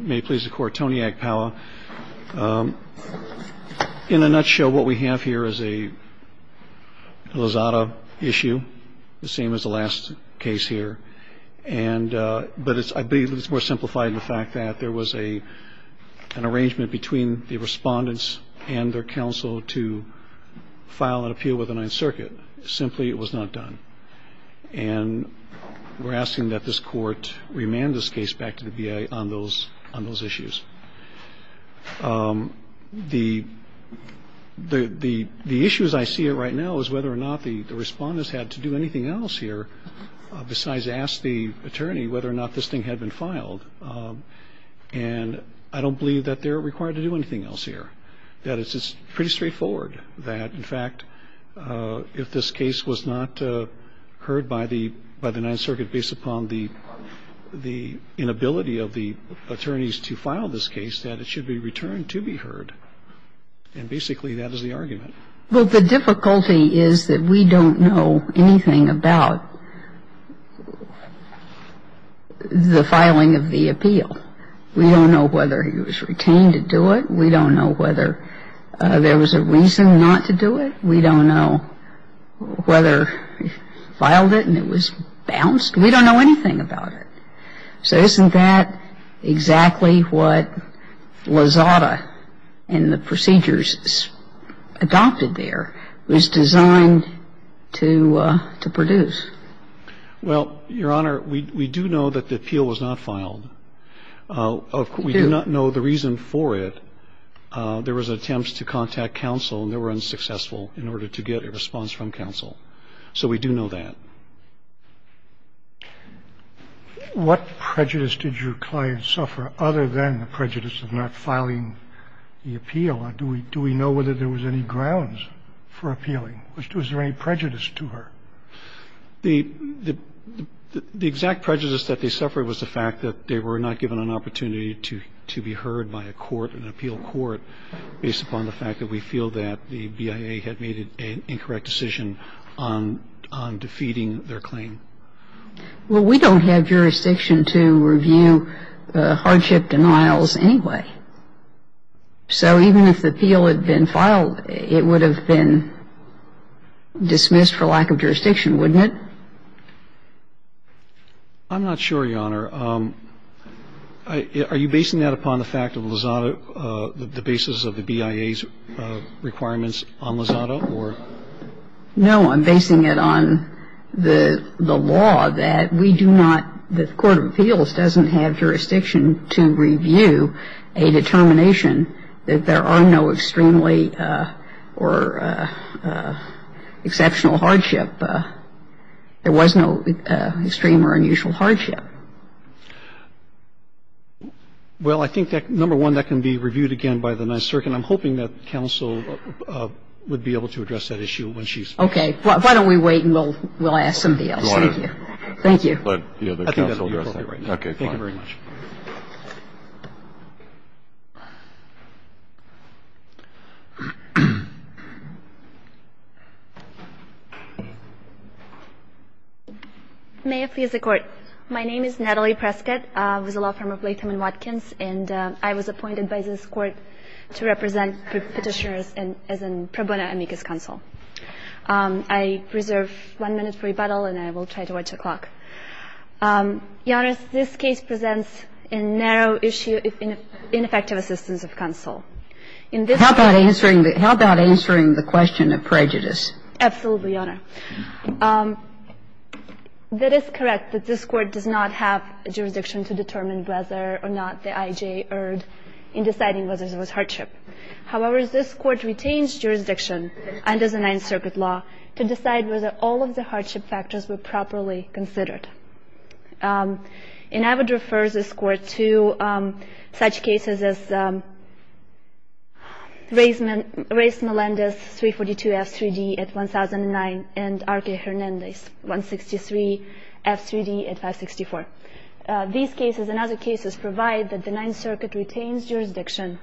May it please the Court, Tony Agpala. In a nutshell, what we have here is a Lozada issue, the same as the last case here, but I believe it's more simplified in the fact that there was an arrangement between the respondents and their counsel to file an appeal with the Ninth Circuit. Simply, it was not done. And we're asking that this Court remand this case back to the BIA on those issues. The issues I see right now is whether or not the respondents had to do anything else here besides ask the attorney whether or not this thing had been filed. And I don't believe that they're required to do anything else here. That it's pretty straightforward that, in fact, if this case was not heard by the Ninth Circuit based upon the inability of the attorneys to file this case, that it should be returned to be heard. And basically that is the argument. Well, the difficulty is that we don't know anything about the filing of the appeal. We don't know whether he was retained to do it. We don't know whether there was a reason not to do it. We don't know whether he filed it and it was bounced. We don't know anything about it. So isn't that exactly what Lozada and the procedures adopted there was designed to produce? Well, Your Honor, we do know that the appeal was not filed. We do not know the reason for it. There was an attempt to contact counsel and they were unsuccessful in order to get a response from counsel. So we do know that. What prejudice did your client suffer other than the prejudice of not filing the appeal? Do we know whether there was any grounds for appealing? Was there any prejudice to her? The exact prejudice that they suffered was the fact that they were not given an opportunity to be heard by a court, an appeal court, based upon the fact that we feel that the Well, we don't have jurisdiction to review the hardship denials anyway. So even if the appeal had been filed, it would have been dismissed for lack of jurisdiction, wouldn't it? I'm not sure, Your Honor. Are you basing that upon the fact of Lozada, the basis of the BIA's requirements on Lozada or? No. I'm basing it on the law that we do not, the court of appeals doesn't have jurisdiction to review a determination that there are no extremely or exceptional hardship. There was no extreme or unusual hardship. Well, I think that, number one, that can be reviewed again by the Ninth Circuit. And I'm hoping that counsel would be able to address that issue when she's finished. Okay. Why don't we wait and we'll ask somebody else. Thank you. Thank you. Let the other counsel address that. Okay. Thank you very much. May I please the Court? My name is Natalie Prescott. I was a law firm of Latham & Watkins, and I was appointed by this Court to represent Petitioners as a pro bono amicus counsel. I reserve one minute for rebuttal, and I will try to watch the clock. Your Honor, this case presents a narrow issue of ineffective assistance of counsel. How about answering the question of prejudice? Absolutely, Your Honor. That is correct that this Court does not have a jurisdiction to determine whether or not the I.J. erred in deciding whether there was hardship. However, this Court retains jurisdiction under the Ninth Circuit law to decide whether all of the hardship factors were properly considered. And I would refer this Court to such cases as Ray Melendez, 342 F.3.D. at 1009, and R.K. Hernandez, 163 F.3.D. at 564. These cases and other cases provide that the Ninth Circuit retains jurisdiction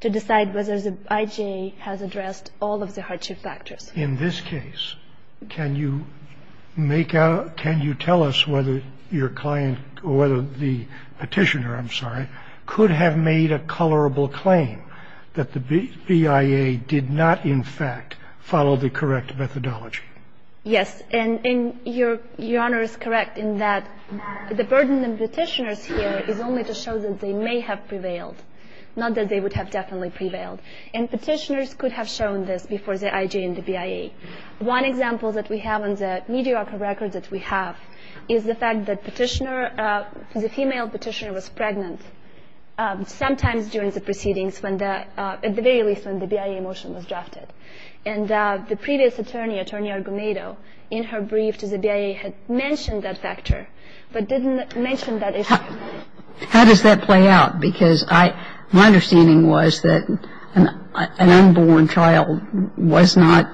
to decide whether the I.J. has addressed all of the hardship factors. In this case, can you make out, can you tell us whether your client, whether the Petitioner, I'm sorry, could have made a colorable claim that the BIA did not in fact follow the correct methodology? Yes. And Your Honor is correct in that the burden on Petitioners here is only to show that they may have prevailed, not that they would have definitely prevailed. And Petitioners could have shown this before the I.J. and the BIA. One example that we have on the mediocre records that we have is the fact that Petitioner the female Petitioner was pregnant sometimes during the proceedings when the, at the very least when the BIA motion was drafted. And the previous attorney, Attorney Argonado, in her brief to the BIA had mentioned that factor, but didn't mention that issue. How does that play out? Because I, my understanding was that an unborn child was not,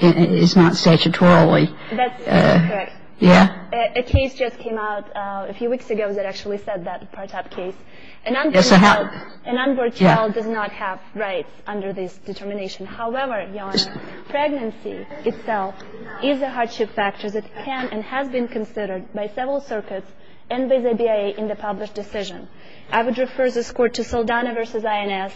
is not statutorily. That's correct. Yeah. A case just came out a few weeks ago that actually said that part of the case. Yes, I have. An unborn child does not have rights under this determination. However, Your Honor, pregnancy itself is a hardship factor that can and has been considered by several circuits and by the BIA in the published decision. I would refer this Court to Saldana v. INS,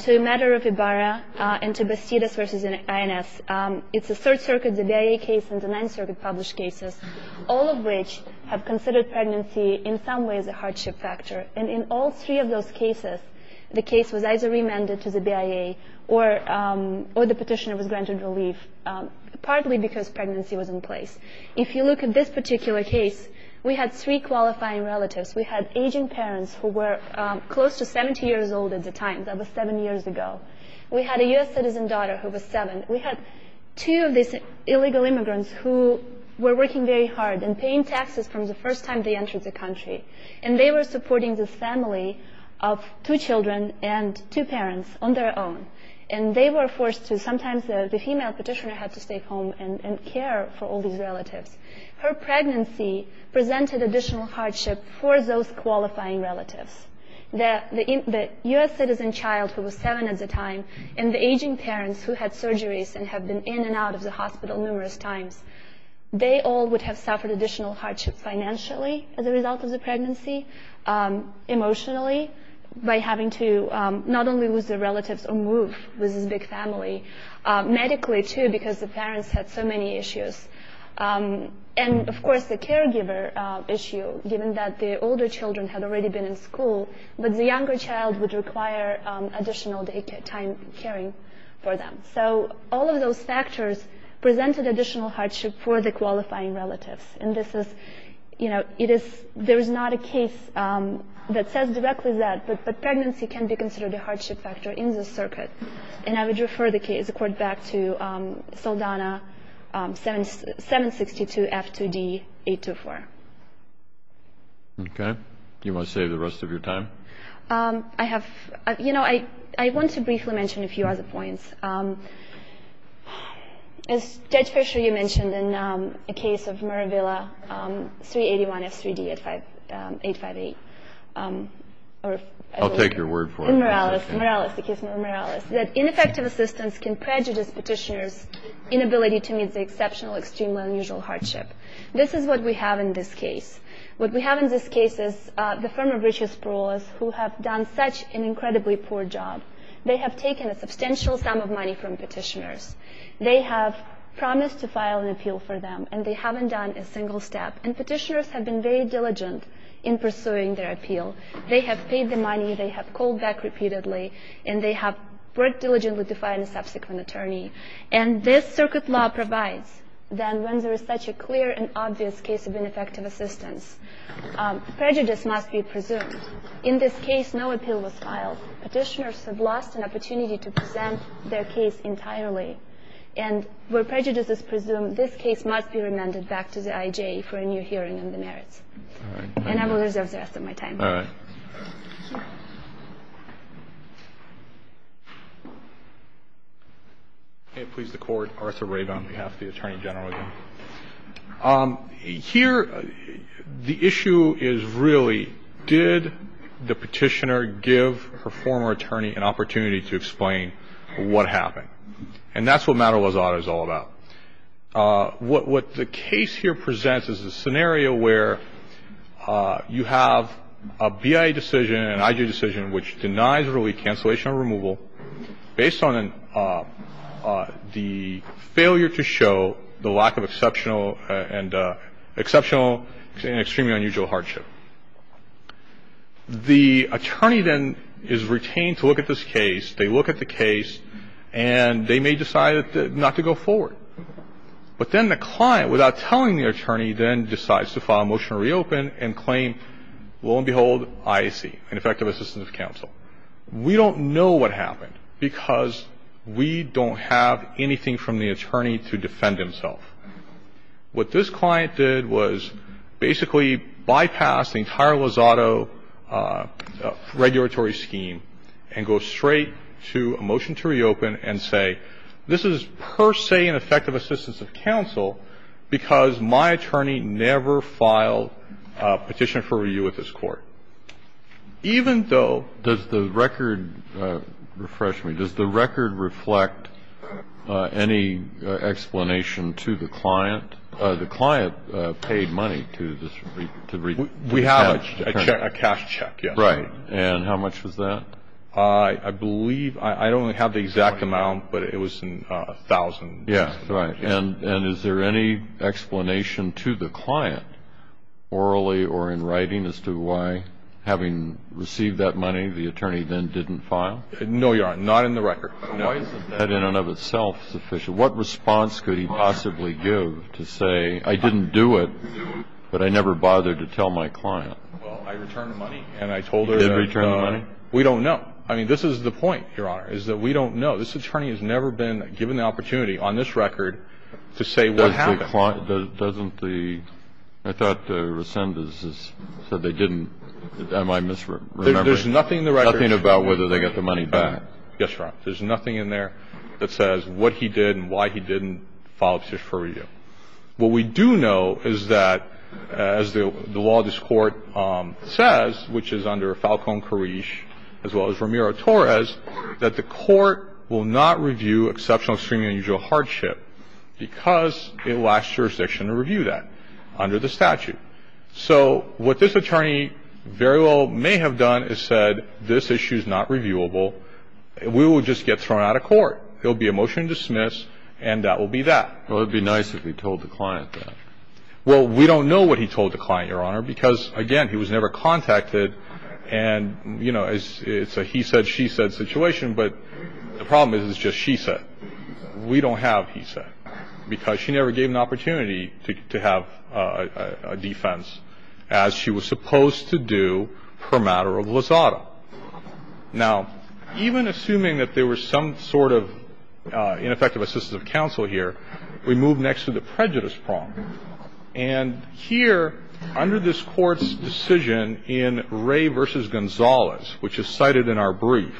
to Meder of Ibarra, and to Bastidas v. INS. It's the Third Circuit, the BIA case, and the Ninth Circuit published cases, all of which have considered pregnancy in some ways a hardship factor. And in all three of those cases, the case was either remanded to the BIA or the Petitioner was granted relief, partly because pregnancy was in place. If you look at this particular case, we had three qualifying relatives. We had aging parents who were close to 70 years old at the time. That was seven years ago. We had a U.S. citizen daughter who was seven. We had two of these illegal immigrants who were working very hard and paying taxes from the first time they entered the country. And they were supporting this family of two children and two parents on their own. And they were forced to, sometimes the female petitioner had to stay home and care for all of these relatives. Her pregnancy presented additional hardship for those qualifying relatives. The U.S. citizen child, who was seven at the time, and the aging parents who had surgeries and have been in and out of the hospital numerous times, they all would have suffered additional hardship financially as a result of the pregnancy, emotionally, by having to not only lose their And, of course, the caregiver issue, given that the older children had already been in school, but the younger child would require additional time caring for them. So all of those factors presented additional hardship for the qualifying relatives. And this is, you know, it is, there is not a case that says directly that, but pregnancy can be considered a hardship factor in this circuit. And I would refer the case, the court, back to Saldana 762 F2D 824. Okay. Do you want to save the rest of your time? I have, you know, I want to briefly mention a few other points. As Judge Fischer, you mentioned in the case of Maravilla 381 F3D 858. I'll take your word for it. In Morales, Morales, the case of Morales, that ineffective assistance can prejudice petitioners' inability to meet the exceptional, extremely unusual hardship. This is what we have in this case. What we have in this case is the firm of Richard Sproul, who have done such an incredibly poor job. They have taken a substantial sum of money from petitioners. They have promised to file an appeal for them, and they haven't done a single step. And petitioners have been very diligent in pursuing their appeal. They have paid the money. They have called back repeatedly. And they have worked diligently to find a subsequent attorney. And this circuit law provides that when there is such a clear and obvious case of ineffective assistance, prejudice must be presumed. In this case, no appeal was filed. Petitioners have lost an opportunity to present their case entirely. And where prejudice is presumed, this case must be remanded back to the IJ for a new hearing on the merits. All right. And I will reserve the rest of my time. All right. Please, the Court. Arthur Rabin on behalf of the Attorney General. Here, the issue is really, did the petitioner give her former attorney an opportunity to explain what happened? And that's what Matta-Lazada is all about. What the case here presents is a scenario where you have a BIA decision, an IJ decision, which denies early cancellation or removal based on the failure to show the lack of exceptional and extremely unusual hardship. The attorney then is retained to look at this case. They look at the case, and they may decide not to go forward. But then the client, without telling the attorney, then decides to file a motion to reopen and claim, lo and behold, IAC, ineffective assistance of counsel. We don't know what happened because we don't have anything from the attorney to defend himself. What this client did was basically bypass the entire Lazada regulatory scheme and go straight to a motion to reopen and say, this is per se an effective assistance of counsel because my attorney never filed a petition for review with this Court. Even though the record refreshed me. Does the record reflect any explanation to the client? The client paid money to re-cash the attorney. We have a cash check, yes. Right. And how much was that? I believe, I don't have the exact amount, but it was $1,000. Yes, right. And is there any explanation to the client, orally or in writing, as to why, having received that money, the attorney then didn't file? No, Your Honor. Not in the record. Why is that in and of itself sufficient? What response could he possibly give to say, I didn't do it, but I never bothered to tell my client? Well, I returned the money, and I told her that we don't know. You did return the money? I mean, this is the point, Your Honor, is that we don't know. This attorney has never been given the opportunity on this record to say what happened. Doesn't the – I thought Resendez said they didn't. Am I misremembering? There's nothing in the record. There's nothing about whether they got the money back. Yes, Your Honor. There's nothing in there that says what he did and why he didn't file a petition for review. What we do know is that, as the law of this Court says, which is under Falcone-Carriche, as well as Ramiro-Torres, that the Court will not review exceptional, extreme, and unusual hardship because it lacks jurisdiction to review that under the statute. So what this attorney very well may have done is said this issue is not reviewable. We will just get thrown out of court. There will be a motion to dismiss, and that will be that. Well, it would be nice if he told the client that. Well, we don't know what he told the client, Your Honor, because, again, he was never contacted. And, you know, it's a he-said, she-said situation, but the problem is it's just she-said. We don't have he-said, because she never gave an opportunity to have a defense as she was supposed to do per matter of lasada. Now, even assuming that there were some sort of ineffective assistance of counsel here, we move next to the prejudice prong. And here, under this Court's decision in Ray v. Gonzalez, which is cited in our brief,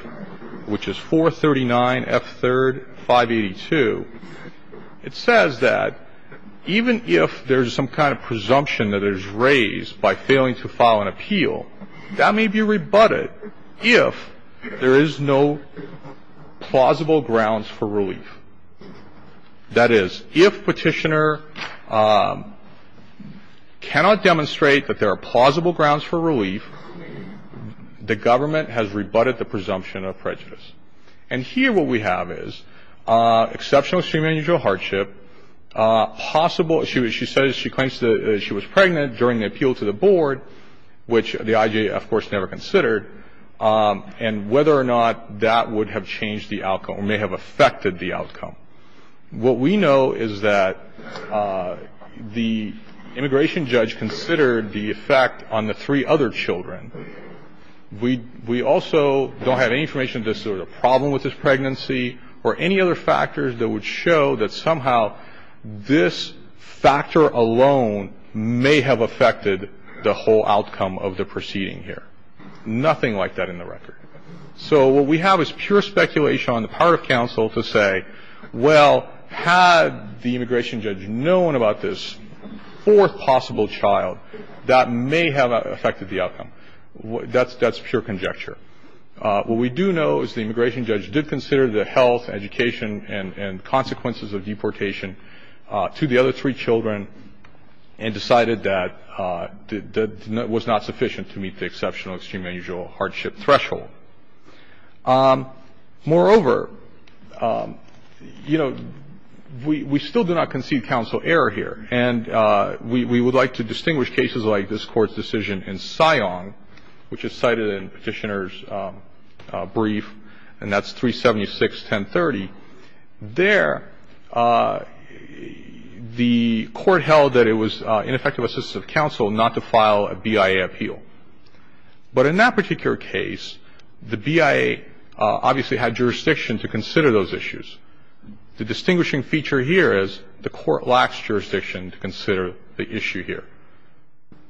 which is 439 F. 3rd 582, it says that even if there's some kind of presumption that is raised by failing to file an appeal, that may be rebutted if there is no plausible grounds for relief. That is, if Petitioner cannot demonstrate that there are plausible grounds for relief, the government has rebutted the presumption of prejudice. And here what we have is exceptional extreme and unusual hardship, possible issues. She says she claims that she was pregnant during the appeal to the board, which the IJA, of course, never considered, and whether or not that would have changed the outcome or may have affected the outcome. What we know is that the immigration judge considered the effect on the three other children. We also don't have any information that there was a problem with this pregnancy or any other factors that would show that somehow this factor alone may have affected the whole outcome of the proceeding here. Nothing like that in the record. So what we have is pure speculation on the part of counsel to say, well, had the immigration judge known about this fourth possible child, that may have affected the outcome. That's pure conjecture. What we do know is the immigration judge did consider the health, education, and consequences of deportation to the other three children and decided that that was not sufficient to meet the exceptional extreme and unusual hardship threshold. Moreover, you know, we still do not concede counsel error here. And we would like to distinguish cases like this Court's decision in Siong, which is cited in Petitioner's brief, and that's 376-1030. There, the Court held that it was ineffective assistance of counsel not to file a BIA appeal. But in that particular case, the BIA obviously had jurisdiction to consider those issues. The distinguishing feature here is the Court lacks jurisdiction to consider the issue here,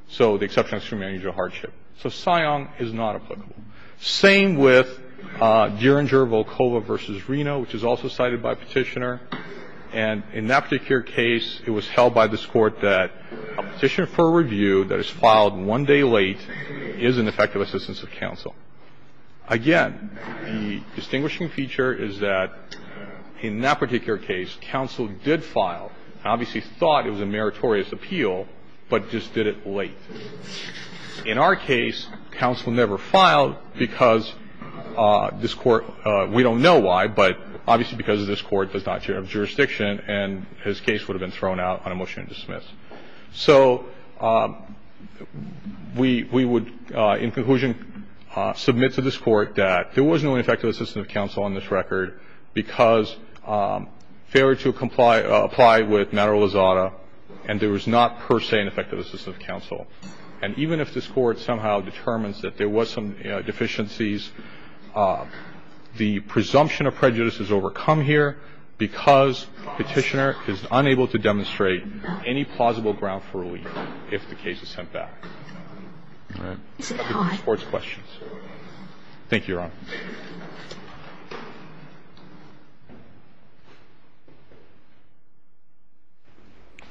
so the exceptional extreme and unusual hardship. So Siong is not applicable. Same with Derringer-Volkova v. Reno, which is also cited by Petitioner. And in that particular case, it was held by this Court that a petition for review that is filed one day late is an effective assistance of counsel. Again, the distinguishing feature is that in that particular case, counsel did file, obviously thought it was a meritorious appeal, but just did it late. In our case, counsel never filed because this Court – we don't know why, but obviously because this Court does not share jurisdiction and his case would have been thrown out on a motion to dismiss. So we would, in conclusion, submit to this Court that there was no ineffective assistance of counsel on this record because failure to comply – apply with matter And there was not per se an effective assistance of counsel. And even if this Court somehow determines that there was some deficiencies, the presumption of prejudice is overcome here because Petitioner is unable to demonstrate any plausible ground for relief if the case is sent back. All right. The Court's questions. Thank you, Your Honor.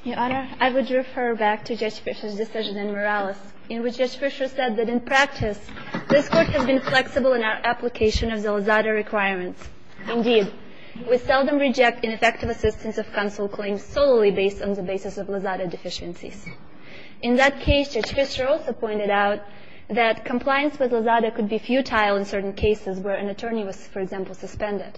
Your Honor, I would refer back to Judge Fischer's decision in Morales in which Judge Fischer said that in practice, this Court has been flexible in our application of the Lozada requirements. Indeed, we seldom reject ineffective assistance of counsel claims solely based on the basis of Lozada deficiencies. In that case, Judge Fischer also pointed out that compliance with Lozada could be futile in certain cases where an attorney was, for example, suspended.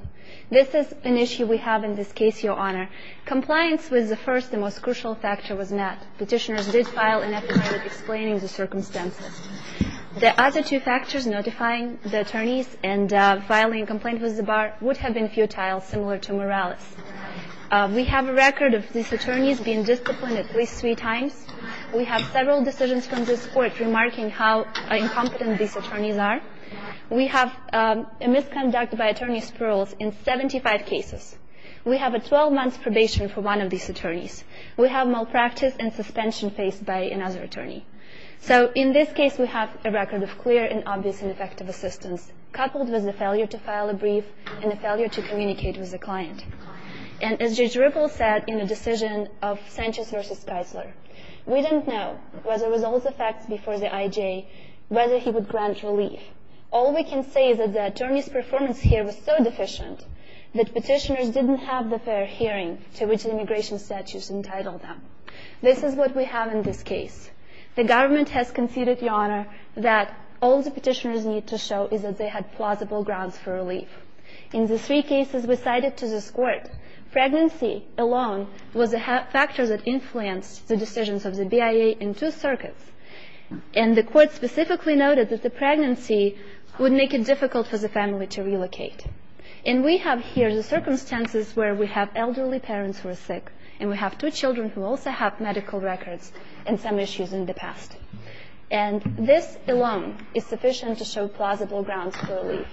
This is an issue we have in this case, Your Honor. Compliance with the first and most crucial factor was met. Petitioners did file an affidavit explaining the circumstances. The other two factors, notifying the attorneys and filing a complaint with the bar, would have been futile, similar to Morales. We have a record of these attorneys being disciplined at least three times. We have several decisions from this Court remarking how incompetent these attorneys are. We have a misconduct by attorney Spurls in 75 cases. We have a 12-month probation for one of these attorneys. We have malpractice and suspension faced by another attorney. So in this case, we have a record of clear and obvious ineffective assistance, coupled with a failure to file a brief and a failure to communicate with the client. And as Judge Ripple said in the decision of Sanchez v. Keisler, we didn't know whether there was all the facts before the IJ, whether he would grant relief. All we can say is that the attorney's performance here was so deficient that petitioners didn't have the fair hearing to which the immigration statutes entitled them. This is what we have in this case. The government has conceded, Your Honor, that all the petitioners need to show is that they had plausible grounds for relief. In the three cases we cited to this Court, pregnancy alone was a factor that influenced the decisions of the BIA in two circuits, and the Court specifically noted that the pregnancy would make it difficult for the family to relocate. And we have here the circumstances where we have elderly parents who are sick, and we have two children who also have medical records and some issues in the past. And this alone is sufficient to show plausible grounds for relief.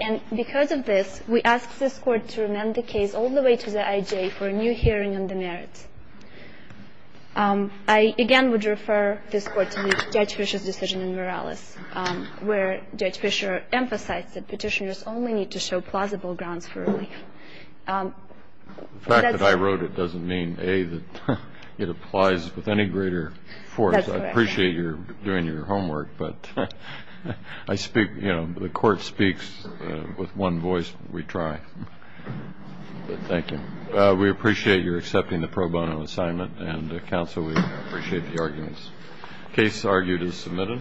And because of this, we ask this Court to amend the case all the way to the IJ for a new hearing on the merits. I again would refer this Court to Judge Fischer's decision in Morales, where Judge Fischer emphasized that petitioners only need to show plausible grounds for relief. That's why I wrote it doesn't mean, A, that it applies with any greater force. That's correct. I appreciate you're doing your homework, but I speak, you know, the Court speaks with one voice, we try. Thank you. We appreciate your accepting the pro bono assignment, and, Counsel, we appreciate the arguments. Case argued as submitted.